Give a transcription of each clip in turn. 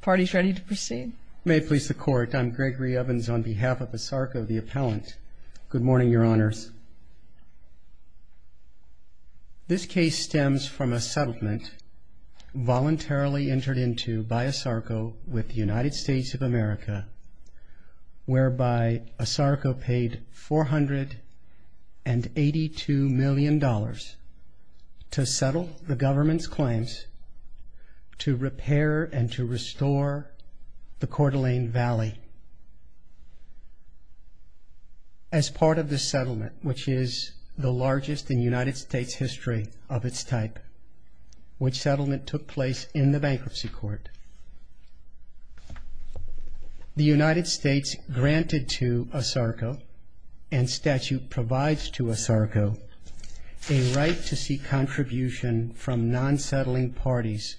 Parties ready to proceed? May it please the Court, I'm Gregory Evans on behalf of ASARCO, the appellant. Good morning, Your Honors. This case stems from a settlement voluntarily entered into by ASARCO with the United States of America, whereby ASARCO paid $482 million to settle the government's claims to repair and to restore the Coeur d'Alene Valley. As part of the settlement, which is the largest in United States history of its type, which settlement took place in the bankruptcy court, the United States granted to ASARCO and statute provides to ASARCO a right to seek contribution from non-settling parties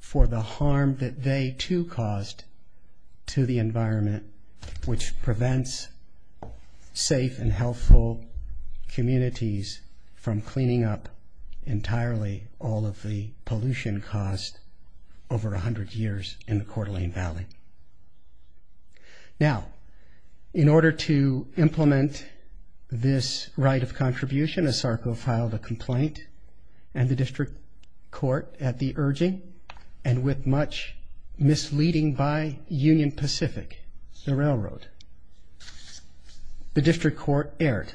for the harm that they too caused to the environment, which prevents safe and healthful communities from cleaning up entirely all of the pollution caused over 100 years in the Coeur d'Alene Valley. Now, in order to implement this right of contribution, ASARCO filed a complaint and the district court at the urging and with much misleading by Union Pacific, the railroad. The district court erred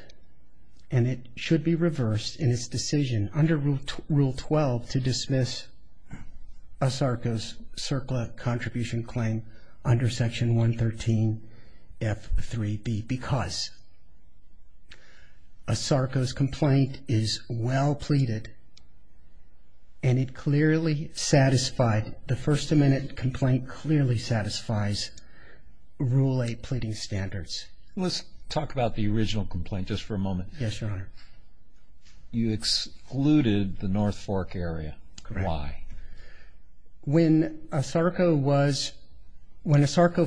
and it should be reversed in its decision under Rule 12 to dismiss ASARCO's CERCLA contribution claim under Section 113F3B because ASARCO's complaint is well pleaded and it clearly satisfied the first amendment complaint clearly satisfies Rule 8 pleading standards. Let's talk about the original complaint just for a moment. Yes, Your Honor. You excluded the North Fork area. Why? When ASARCO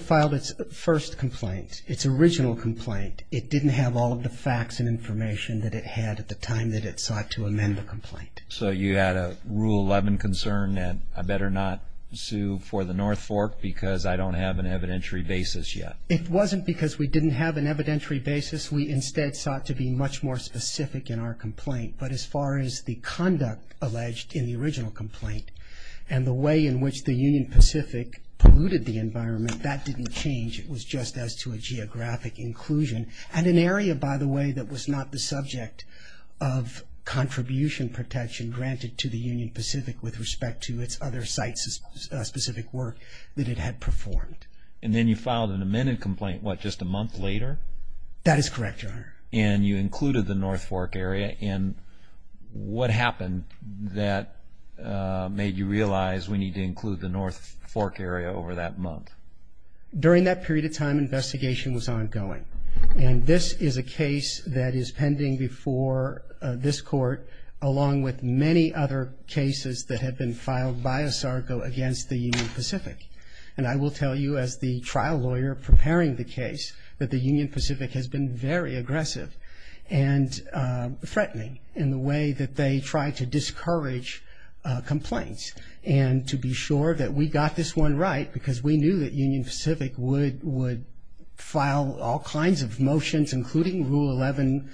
filed its first complaint, its original complaint, it didn't have all of the facts and information that it had at the time that it sought to amend the complaint. So you had a Rule 11 concern that I better not sue for the North Fork because I don't have an evidentiary basis yet. It wasn't because we didn't have an evidentiary basis. We instead sought to be much more specific in our complaint. But as far as the conduct alleged in the original complaint and the way in which the Union Pacific polluted the environment, that didn't change. It was just as to a geographic inclusion and an area, by the way, that was not the subject of contribution protection granted to the Union Pacific with respect to its other sites specific work that it had performed. And then you filed an amended complaint, what, just a month later? That is correct, Your Honor. And you included the North Fork area. And what happened that made you realize we need to include the North Fork area over that month? During that period of time, investigation was ongoing. And this is a case that is pending before this Court along with many other cases that had been filed by ASARCO against the Union Pacific. And I will tell you as the trial lawyer preparing the case that the Union Pacific has been very aggressive and threatening in the way that they try to discourage complaints. And to be sure that we got this one right because we knew that Union Pacific would file all kinds of motions, including Rule 11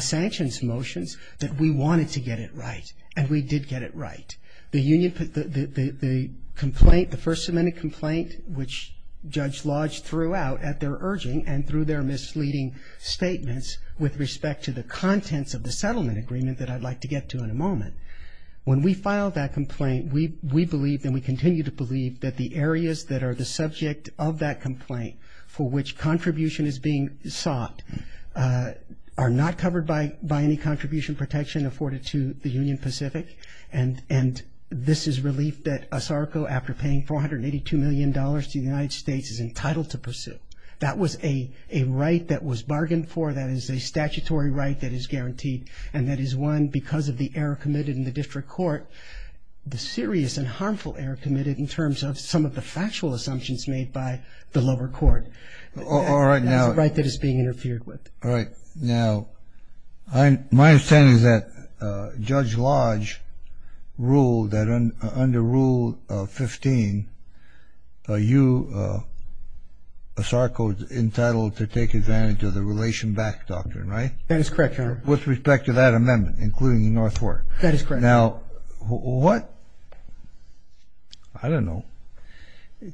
sanctions motions, that we wanted to get it right. And we did get it right. The complaint, the First Amendment complaint, which Judge Lodge threw out at their urging and through their misleading statements with respect to the contents of the settlement agreement that I'd like to get to in a moment. When we filed that complaint, we believed and we continue to believe that the areas that are the subject of that complaint for which contribution is being sought are not covered by any contribution protection afforded to the Union Pacific. And this is relief that ASARCO, after paying $482 million to the United States, is entitled to pursue. That was a right that was bargained for. That is a statutory right that is guaranteed. And that is one because of the error committed in the District Court, the serious and harmful error committed in terms of some of the factual assumptions made by the lower court. All right, now. That's a right that is being interfered with. All right. Now, my understanding is that Judge Lodge ruled that under Rule 15, you, ASARCO, is entitled to take advantage of the relation back doctrine, right? That is correct, Your Honor. With respect to that amendment, including the North Fork. That is correct. Now, what? I don't know.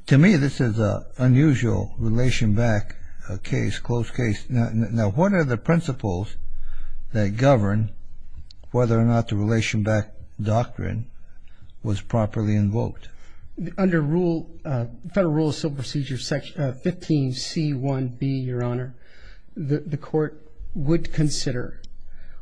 To me, this is an unusual relation back case, closed case. Now, what are the principles that govern whether or not the relation back doctrine was properly invoked? Under Federal Rule of Civil Procedure 15C1B, Your Honor, the court would consider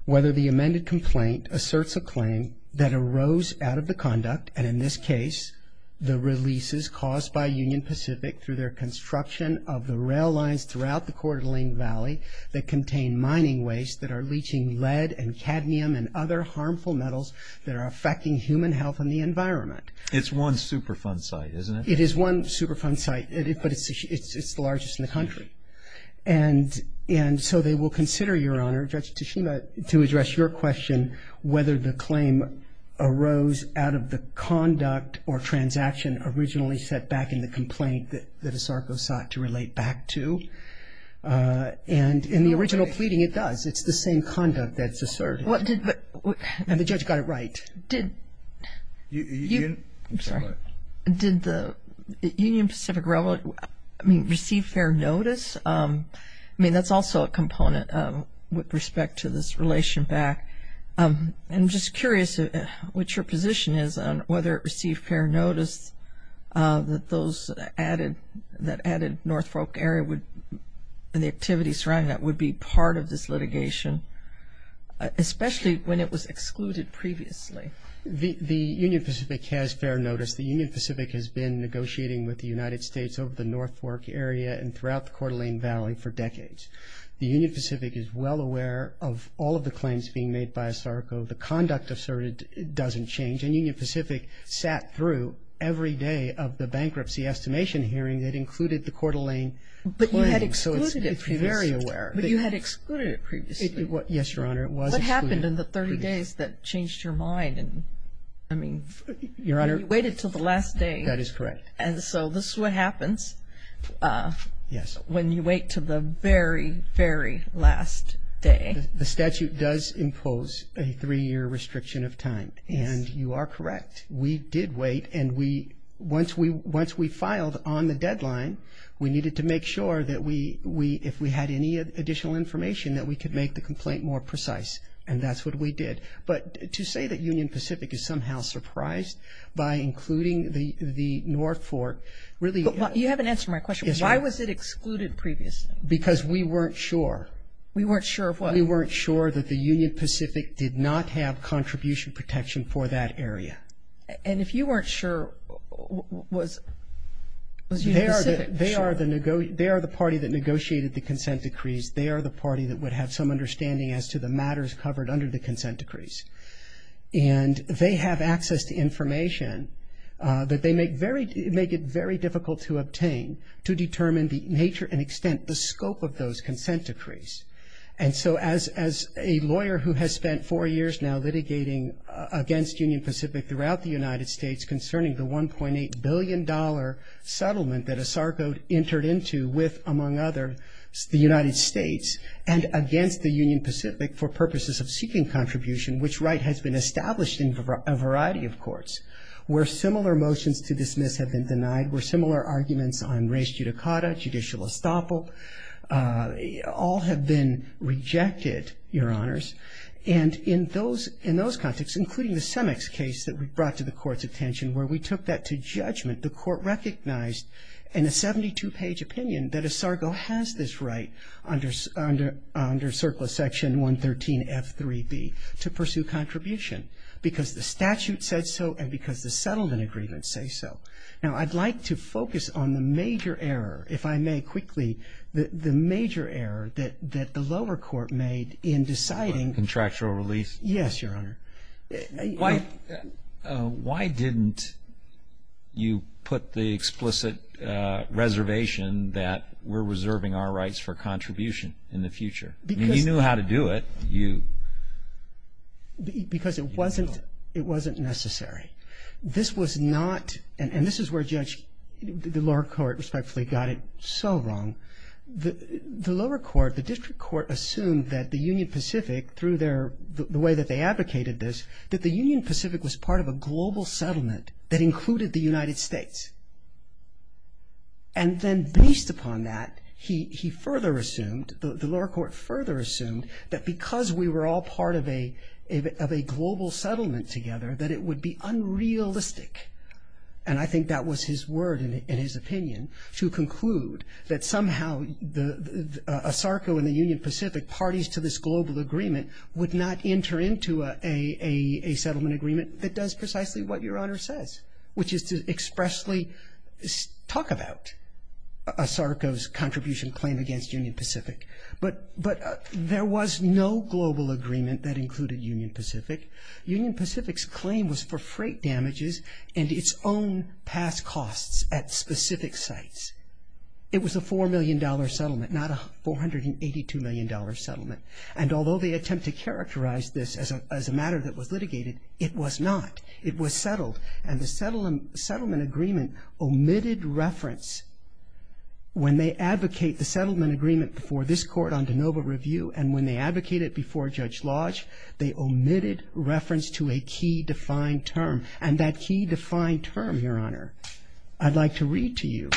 whether the amended complaint asserts a claim that arose out of the conduct, and in this case, the releases caused by Union Pacific through their construction of the rail lines throughout the Coeur d'Alene Valley that contain mining waste that are leaching lead and cadmium and other harmful metals that are affecting human health and the environment. It's one Superfund site, isn't it? It is one Superfund site, but it's the largest in the country. And so they will consider, Your Honor, Judge Tashima, to address your question, whether the claim arose out of the conduct or transaction originally set back in the complaint that ASARCO sought to relate back to. And in the original pleading, it does. It's the same conduct that's asserted. And the judge got it right. I'm sorry. Did the Union Pacific Railroad, I mean, receive fair notice? I mean, that's also a component with respect to this relation back. I'm just curious what your position is on whether it received fair notice that those added, that added North Fork area and the activities surrounding that would be part of this litigation, especially when it was excluded previously. The Union Pacific has fair notice. The Union Pacific has been negotiating with the United States over the North Fork area and throughout the Coeur d'Alene Valley for decades. The Union Pacific is well aware of all of the claims being made by ASARCO. The conduct asserted doesn't change. And Union Pacific sat through every day of the bankruptcy estimation hearing that included the Coeur d'Alene. But you had excluded it previously. It's very aware. But you had excluded it previously. Yes, Your Honor, it was excluded. What happened in the 30 days that changed your mind? I mean, you waited until the last day. That is correct. And so this is what happens when you wait until the very, very last day. The statute does impose a three-year restriction of time, and you are correct. We did wait, and once we filed on the deadline, we needed to make sure that if we had any additional information that we could make the complaint more precise, and that's what we did. But to say that Union Pacific is somehow surprised by including the North Fork really ---- You haven't answered my question. Why was it excluded previously? Because we weren't sure. We weren't sure of what? We weren't sure that the Union Pacific did not have contribution protection for that area. And if you weren't sure, was Union Pacific sure? They are the party that negotiated the consent decrees. They are the party that would have some understanding as to the matters covered under the consent decrees. And they have access to information that they make it very difficult to obtain to determine the nature and extent, the scope of those consent decrees. And so as a lawyer who has spent four years now litigating against Union Pacific throughout the United States concerning the $1.8 billion settlement that ASARCO entered into with, among others, the United States, and against the Union Pacific for purposes of seeking contribution, which Wright has been established in a variety of courts, where similar motions to dismiss have been denied, where similar arguments on res judicata, judicial estoppel, all have been rejected, Your Honors. And in those contexts, including the Semex case that we brought to the Court's attention, where we took that to judgment, the Court recognized in a 72-page opinion that ASARCO has this right under Circula Section 113F3B to pursue contribution because the statute said so and because the settlement agreements say so. Now, I'd like to focus on the major error, if I may quickly, the major error that the lower court made in deciding. Contractual release? Yes, Your Honor. Why didn't you put the explicit reservation that we're reserving our rights for contribution in the future? You knew how to do it. Because it wasn't necessary. This was not, and this is where Judge, the lower court, respectfully, got it so wrong. The lower court, the district court, assumed that the Union Pacific, through the way that they advocated this, that the Union Pacific was part of a global settlement that included the United States. And then based upon that, he further assumed, the lower court further assumed, that because we were all part of a global settlement together, that it would be unrealistic, and I think that was his word and his opinion, to conclude that somehow ASARCO and the Union Pacific, parties to this global agreement, would not enter into a settlement agreement that does precisely what Your Honor says, which is to expressly talk about ASARCO's contribution claim against Union Pacific. But there was no global agreement that included Union Pacific. Union Pacific's claim was for freight damages and its own past costs at specific sites. It was a $4 million settlement, not a $482 million settlement. And although they attempt to characterize this as a matter that was litigated, it was not. It was settled, and the settlement agreement omitted reference. When they advocate the settlement agreement before this Court on de novo review, and when they advocated it before Judge Lodge, they omitted reference to a key defined term. And that key defined term, Your Honor, I'd like to read to you.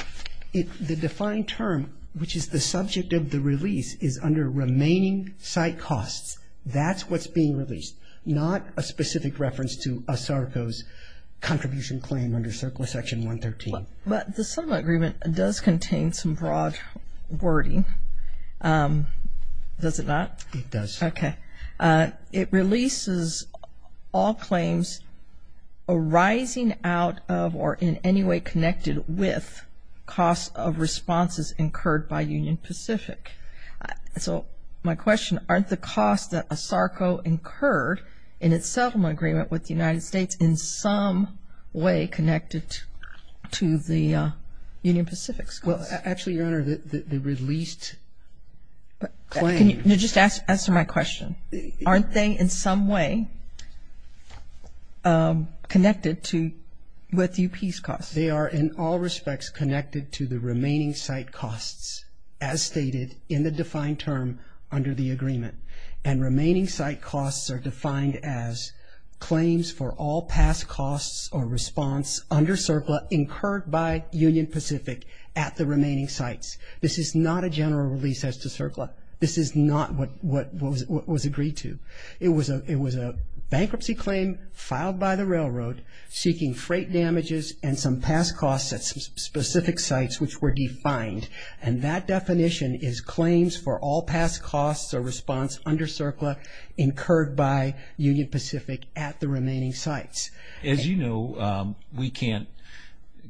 The defined term, which is the subject of the release, is under remaining site costs. That's what's being released, not a specific reference to ASARCO's contribution claim under CERCLA Section 113. But the settlement agreement does contain some broad wording. Does it not? It does. Okay. It releases all claims arising out of or in any way connected with costs of responses incurred by Union Pacific. So my question, aren't the costs that ASARCO incurred in its settlement agreement with the United States in some way connected to the Union Pacific's costs? Well, actually, Your Honor, the released claims. Can you just answer my question? Aren't they in some way connected with UP's costs? They are in all respects connected to the remaining site costs, as stated in the defined term under the agreement. And remaining site costs are defined as claims for all past costs or response under CERCLA incurred by Union Pacific at the remaining sites. This is not a general release as to CERCLA. This is not what was agreed to. It was a bankruptcy claim filed by the railroad seeking freight damages and some past costs at some specific sites which were defined. And that definition is claims for all past costs or response under CERCLA incurred by Union Pacific at the remaining sites. As you know, we can't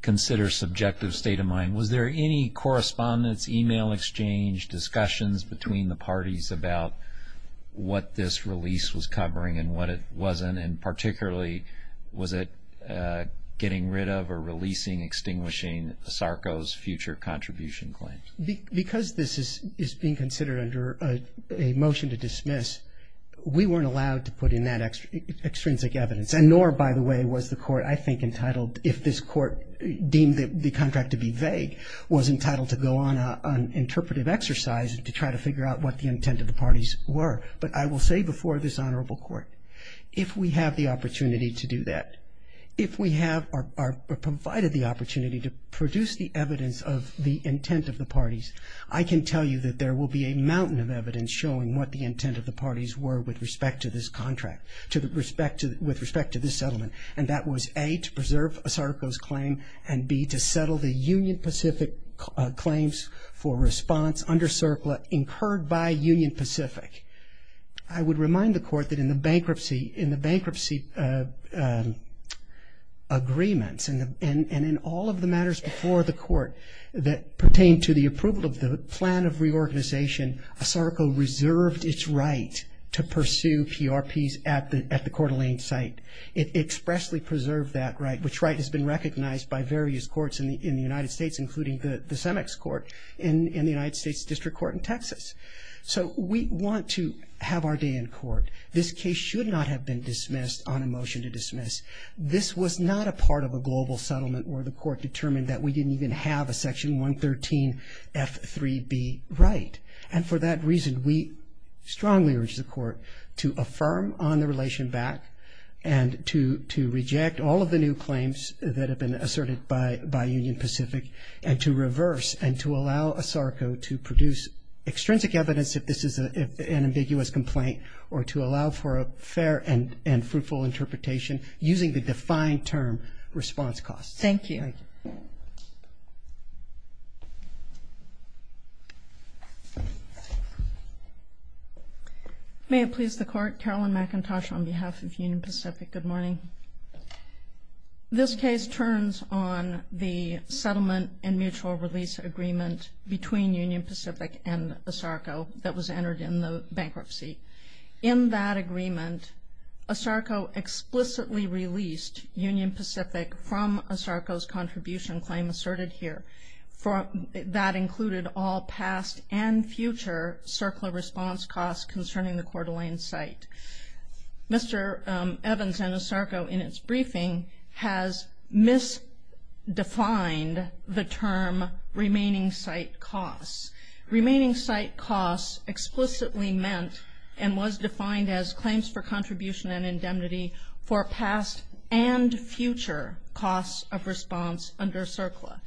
consider subjective state of mind. Was there any correspondence, e-mail exchange, discussions between the parties about what this release was covering and what it wasn't? And then particularly, was it getting rid of or releasing, extinguishing SARCO's future contribution claims? Because this is being considered under a motion to dismiss, we weren't allowed to put in that extrinsic evidence. And nor, by the way, was the Court, I think, entitled, if this Court deemed the contract to be vague, was entitled to go on an interpretive exercise to try to figure out what the intent of the parties were. But I will say before this Honorable Court, if we have the opportunity to do that, if we have provided the opportunity to produce the evidence of the intent of the parties, I can tell you that there will be a mountain of evidence showing what the intent of the parties were with respect to this contract, with respect to this settlement. And that was, A, to preserve SARCO's claim, and, B, to settle the Union Pacific claims for response under SARCO incurred by Union Pacific. I would remind the Court that in the bankruptcy agreements and in all of the matters before the Court that pertain to the approval of the plan of reorganization, SARCO reserved its right to pursue PRPs at the Coeur d'Alene site. It expressly preserved that right, which right has been recognized by various courts in the United States, including the CEMEX court in the United States District Court in Texas. So we want to have our day in court. This case should not have been dismissed on a motion to dismiss. This was not a part of a global settlement where the Court determined that we didn't even have a section 113F3B right. And for that reason, we strongly urge the Court to affirm on the relation back and to reject all of the new claims that have been asserted by Union Pacific, and to reverse and to allow SARCO to produce extrinsic evidence if this is an ambiguous complaint or to allow for a fair and fruitful interpretation using the defined term, response costs. Thank you. Thank you. May it please the Court. Carolyn McIntosh on behalf of Union Pacific. Good morning. This case turns on the settlement and mutual release agreement between Union Pacific and SARCO that was entered in the bankruptcy. In that agreement, SARCO explicitly released Union Pacific from SARCO's contribution claim asserted here. That included all past and future CERCLA response costs concerning the Coeur d'Alene site. Mr. Evans and SARCO in its briefing has misdefined the term remaining site costs. Remaining site costs explicitly meant and was defined as claims for contribution and indemnity for past and future costs of response under CERCLA.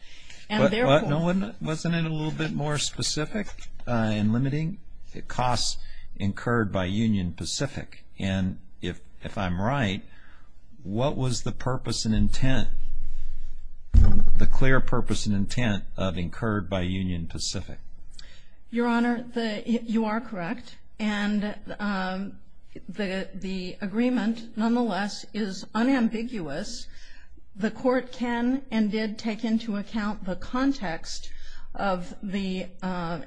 Wasn't it a little bit more specific and limiting? It costs incurred by Union Pacific. And if I'm right, what was the purpose and intent, the clear purpose and intent of incurred by Union Pacific? Your Honor, you are correct. And the agreement, nonetheless, is unambiguous. The Court can and did take into account the context of the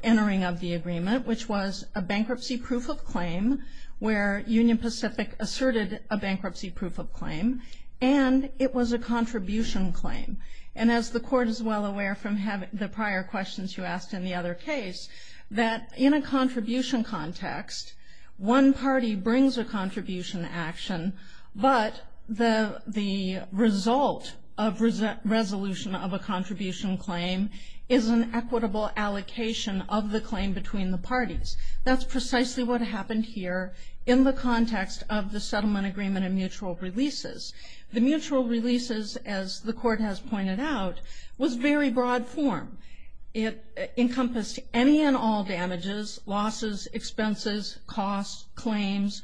entering of the agreement, which was a bankruptcy proof of claim where Union Pacific asserted a bankruptcy proof of claim, and it was a contribution claim. And as the Court is well aware from the prior questions you asked in the other case, that in a contribution context, one party brings a contribution action, but the result of resolution of a contribution claim is an equitable allocation of the claim between the parties. That's precisely what happened here in the context of the settlement agreement and mutual releases. The mutual releases, as the Court has pointed out, was very broad form. It encompassed any and all damages, losses, expenses, costs, claims,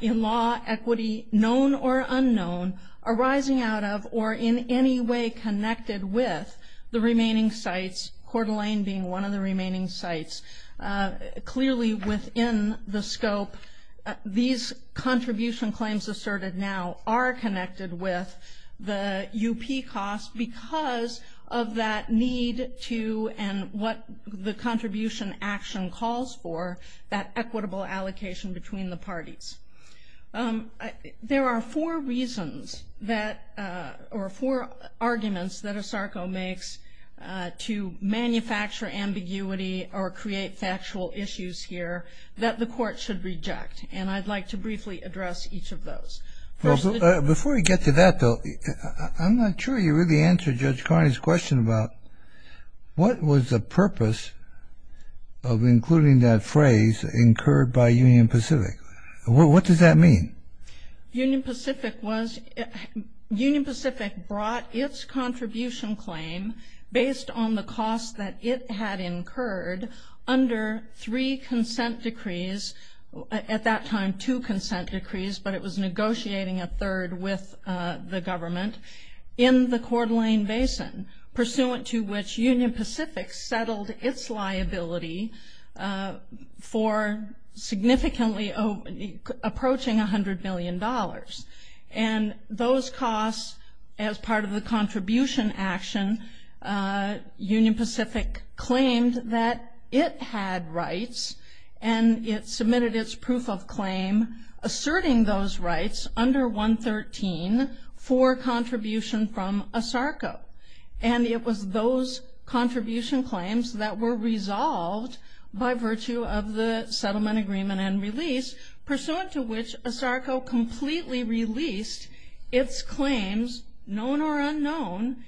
in law, equity, known or unknown, arising out of or in any way connected with the remaining sites, Coeur d'Alene being one of the remaining sites. Clearly within the scope, these contribution claims asserted now are connected with the UP costs because of that need to and what the contribution action calls for, that equitable allocation between the parties. There are four reasons that or four arguments that ASARCO makes to manufacture ambiguity or create factual issues here that the Court should reject, and I'd like to briefly address each of those. Before we get to that, though, I'm not sure you really answered Judge Carney's question about what was the purpose of including that phrase, incurred by Union Pacific. What does that mean? Union Pacific brought its contribution claim based on the cost that it had incurred under three consent decrees, at that time two consent decrees, but it was negotiating a third with the government in the Coeur d'Alene basin, pursuant to which Union Pacific settled its liability for significantly approaching $100 million. And those costs, as part of the contribution action, Union Pacific claimed that it had rights and it submitted its proof of claim asserting those rights under 113 for contribution from ASARCO. And it was those contribution claims that were resolved by virtue of the settlement agreement and release, pursuant to which ASARCO completely released its claims, known or unknown,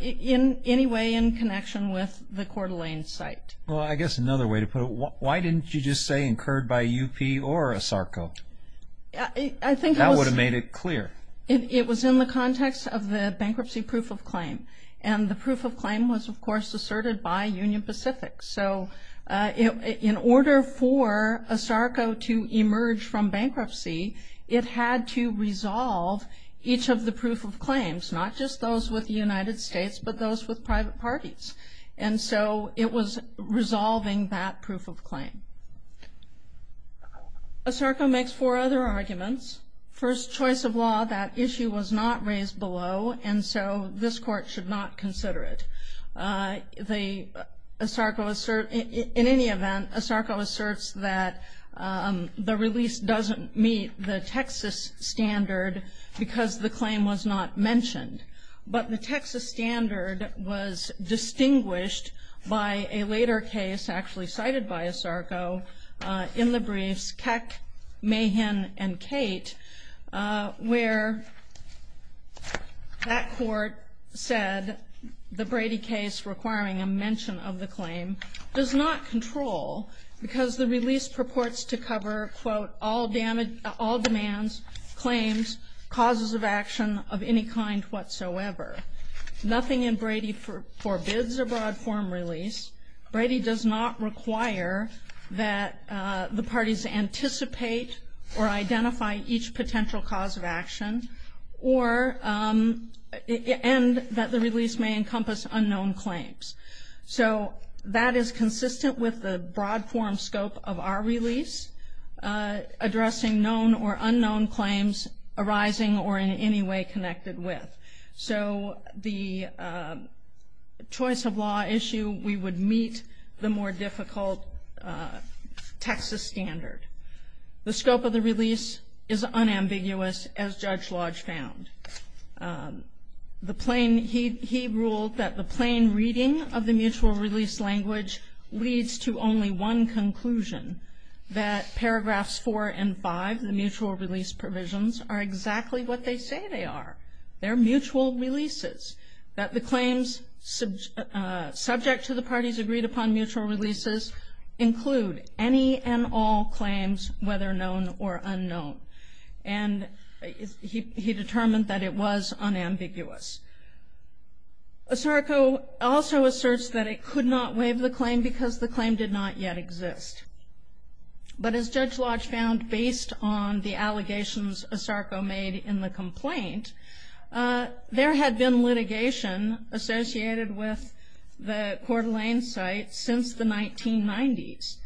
in any way in connection with the Coeur d'Alene site. Well, I guess another way to put it, why didn't you just say incurred by UP or ASARCO? That would have made it clear. It was in the context of the bankruptcy proof of claim. And the proof of claim was, of course, asserted by Union Pacific. So in order for ASARCO to emerge from bankruptcy, it had to resolve each of the proof of claims, not just those with the United States, but those with private parties. And so it was resolving that proof of claim. ASARCO makes four other arguments. First, choice of law, that issue was not raised below, and so this court should not consider it. In any event, ASARCO asserts that the release doesn't meet the Texas standard because the claim was not mentioned. But the Texas standard was distinguished by a later case actually cited by ASARCO in the briefs, Keck, Mahan, and Kate, where that court said the Brady case requiring a mention of the claim does not control because the release purports to cover, quote, all demands, claims, causes of action of any kind whatsoever. Nothing in Brady forbids a broad form release. Brady does not require that the parties anticipate or identify each potential cause of action and that the release may encompass unknown claims. So that is consistent with the broad form scope of our release, addressing known or unknown claims arising or in any way connected with. So the choice of law issue, we would meet the more difficult Texas standard. The scope of the release is unambiguous, as Judge Lodge found. He ruled that the plain reading of the mutual release language leads to only one conclusion, that paragraphs four and five, the mutual release provisions, are exactly what they say they are. They're mutual releases, that the claims subject to the parties agreed upon mutual releases include any And he determined that it was unambiguous. ASARCO also asserts that it could not waive the claim because the claim did not yet exist. But as Judge Lodge found, based on the allegations ASARCO made in the complaint, there had been litigation associated with the Coeur d'Alene site since the 1990s,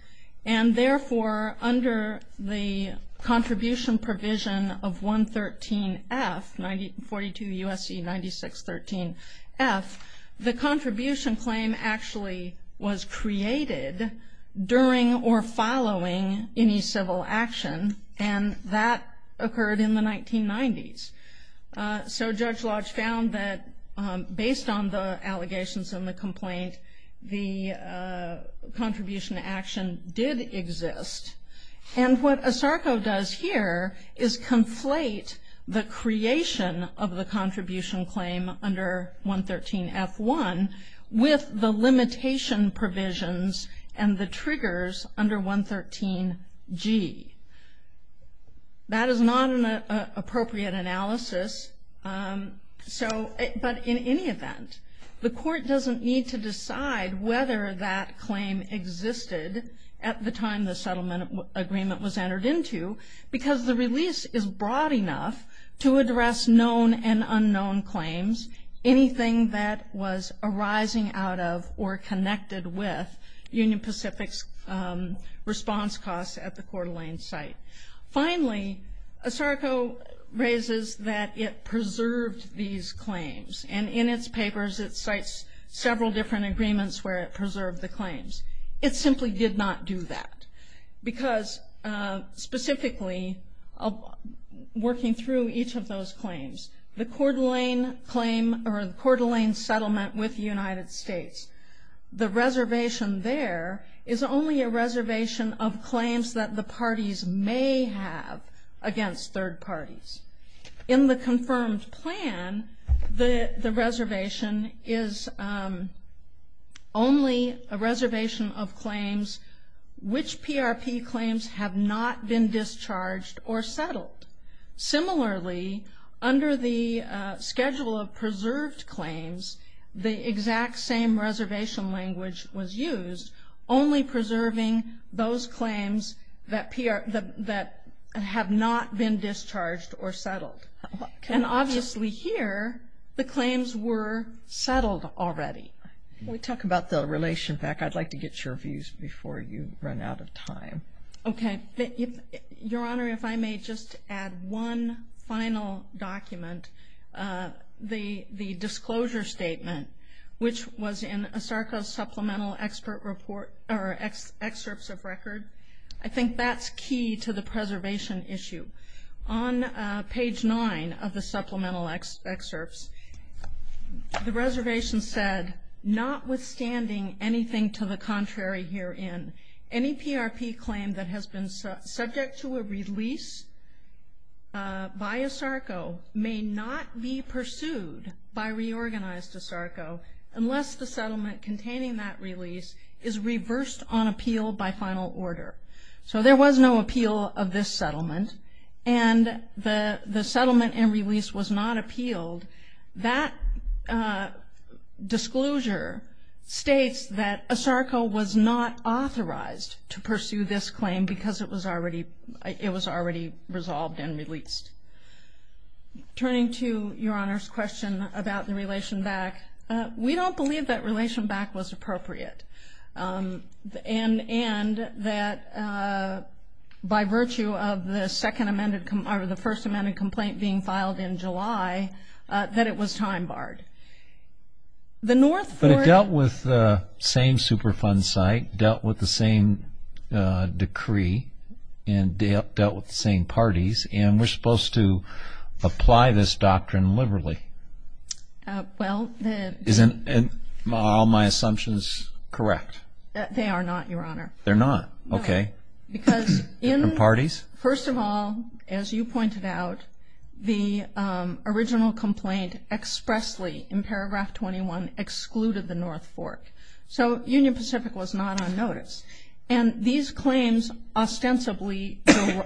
and therefore under the contribution provision of 113F, 42 U.S.C. 9613F, the contribution claim actually was created during or following any civil action, and that occurred in the 1990s. So Judge Lodge found that based on the allegations in the complaint, the contribution action did exist. And what ASARCO does here is conflate the creation of the contribution claim under 113F1 with the limitation provisions and the triggers under 113G. That is not an appropriate analysis. So, but in any event, the court doesn't need to decide whether that claim existed at the time the settlement agreement was entered into because the release is broad enough to address known and unknown claims, anything that was arising out of or connected with Union Pacific's response costs at the Coeur d'Alene site. Finally, ASARCO raises that it preserved these claims, and in its papers it cites several different agreements where it preserved the claims. It simply did not do that because, specifically, working through each of those claims, the Coeur d'Alene claim or the Coeur d'Alene settlement with the United States, the reservation there is only a reservation of claims that the parties may have against third parties. In the confirmed plan, the reservation is only a reservation of claims which PRP claims have not been discharged or settled. Similarly, under the schedule of preserved claims, the exact same reservation language was used, only preserving those claims that have not been discharged or settled. And obviously here, the claims were settled already. When we talk about the relation back, I'd like to get your views before you run out of time. Okay. Your Honor, if I may just add one final document. The disclosure statement, which was in ASARCO's supplemental excerpts of record, I think that's key to the preservation issue. On page nine of the supplemental excerpts, the reservation said, notwithstanding anything to the contrary herein, any PRP claim that has been subject to a release by ASARCO may not be pursued by reorganized ASARCO unless the settlement containing that release is reversed on appeal by final order. So there was no appeal of this settlement, and the settlement and release was not appealed. That disclosure states that ASARCO was not authorized to pursue this claim because it was already resolved and released. Turning to Your Honor's question about the relation back, we don't believe that relation back was appropriate, and that by virtue of the first amended complaint being filed in July, that it was time barred. But it dealt with the same Superfund site, dealt with the same decree, and dealt with the same parties, and we're supposed to apply this doctrine liberally. Well, isn't all my assumptions correct? They are not, Your Honor. They're not? Okay. No. Because in parties? First of all, as you pointed out, the original complaint expressly in paragraph 21 excluded the North Fork. So Union Pacific was not on notice. And these claims ostensibly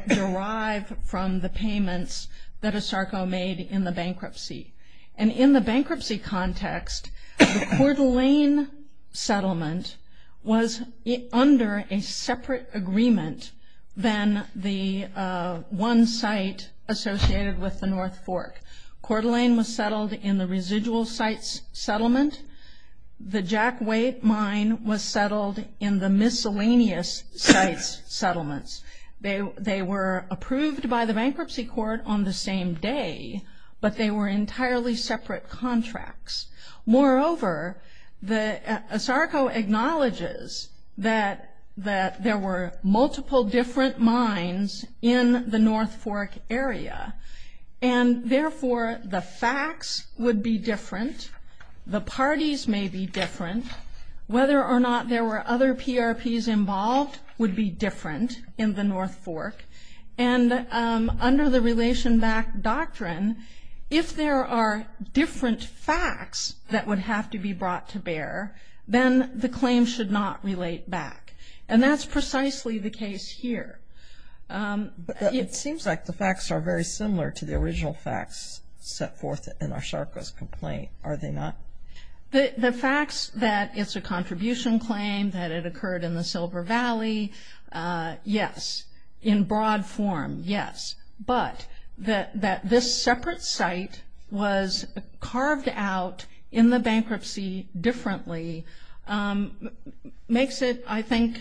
derive from the payments that ASARCO made in the bankruptcy. And in the bankruptcy context, the Coeur d'Alene settlement was under a separate agreement than the one site associated with the North Fork. Coeur d'Alene was settled in the residual sites settlement. The Jack White mine was settled in the miscellaneous sites settlements. They were approved by the bankruptcy court on the same day, but they were entirely separate contracts. Moreover, ASARCO acknowledges that there were multiple different mines in the North Fork area, and therefore the facts would be different. The parties may be different. Whether or not there were other PRPs involved would be different in the North Fork. And under the relation back doctrine, if there are different facts that would have to be brought to bear, then the claim should not relate back. And that's precisely the case here. But it seems like the facts are very similar to the original facts set forth in ASARCO's complaint. Are they not? The facts that it's a contribution claim, that it occurred in the Silver Valley, yes. In broad form, yes. But that this separate site was carved out in the bankruptcy differently makes it, I think,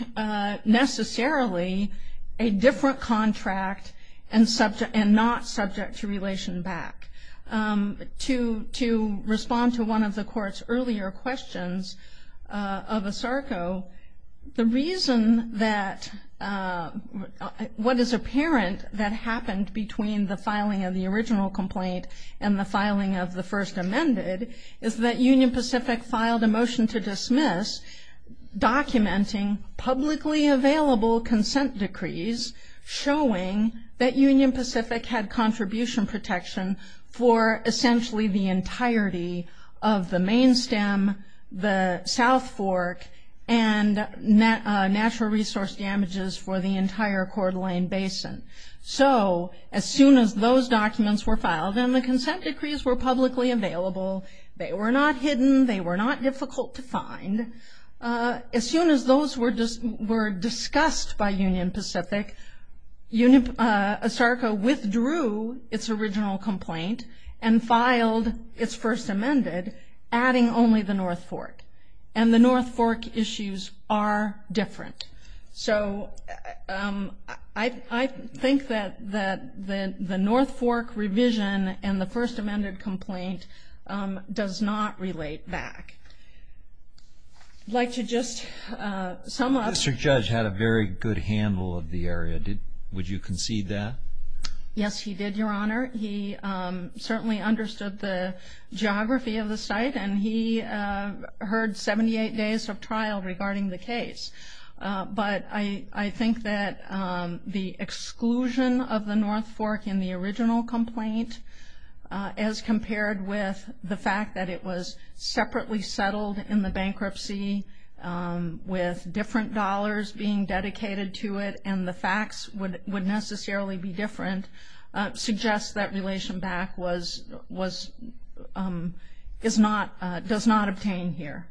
necessarily a different contract and not subject to relation back. To respond to one of the court's earlier questions of ASARCO, the reason that what is apparent that happened between the filing of the original complaint and the filing of the first amended is that Union Pacific filed a motion to dismiss documenting publicly available consent decrees showing that Union Pacific had contribution protection for essentially the entirety of the main stem, the South Fork, and natural resource damages for the entire Coeur d'Alene Basin. So as soon as those documents were filed and the consent decrees were publicly available, they were not hidden, they were not difficult to find, as soon as those were discussed by Union Pacific, ASARCO withdrew its original complaint and filed its first amended, adding only the North Fork. And the North Fork issues are different. So I think that the North Fork revision and the first amended complaint does not relate back. I'd like to just sum up. Mr. Judge had a very good handle of the area. Would you concede that? Yes, he did, Your Honor. He certainly understood the geography of the site, and he heard 78 days of trial regarding the case. But I think that the exclusion of the North Fork in the original complaint, as compared with the fact that it was separately settled in the bankruptcy with different dollars being dedicated to it and the facts would necessarily be different, suggests that relation back does not obtain here.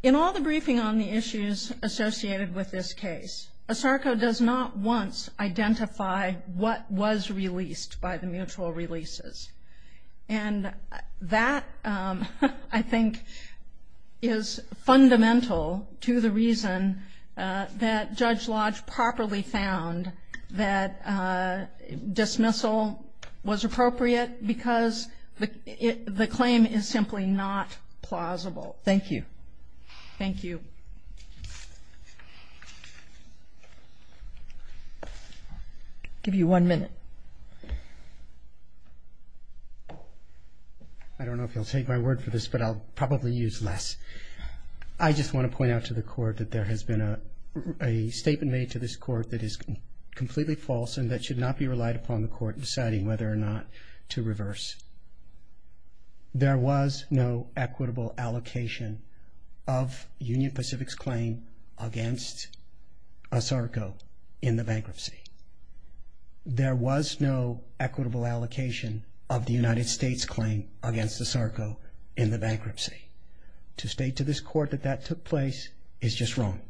In all the briefing on the issues associated with this case, ASARCO does not once identify what was released by the mutual releases. And that, I think, is fundamental to the reason that Judge Lodge properly found that dismissal was appropriate because the claim is simply not plausible. Thank you. Thank you. Thank you. I'll give you one minute. I don't know if you'll take my word for this, but I'll probably use less. I just want to point out to the Court that there has been a statement made to this Court that is completely false and that should not be relied upon the Court in deciding whether or not to reverse. There was no equitable allocation of Union Pacific's claim against ASARCO in the bankruptcy. There was no equitable allocation of the United States' claim against ASARCO in the bankruptcy. To state to this Court that that took place is just wrong.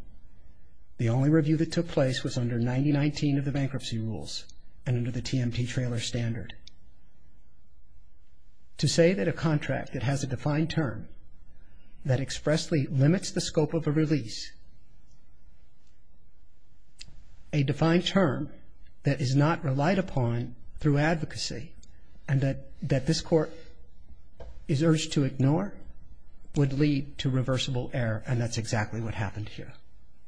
The only review that took place was under 9019 of the bankruptcy rules and under the TMT trailer standard. To say that a contract that has a defined term that expressly limits the scope of a release, a defined term that is not relied upon through advocacy and that this Court is urged to ignore, would lead to reversible error and that's exactly what happened here.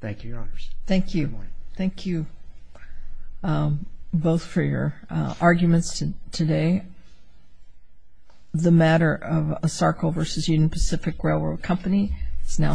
Thank you, Your Honors. Thank you. Good morning. Thank you both for your arguments today. The matter of ASARCO v. Union Pacific Railroad Company is now submitted.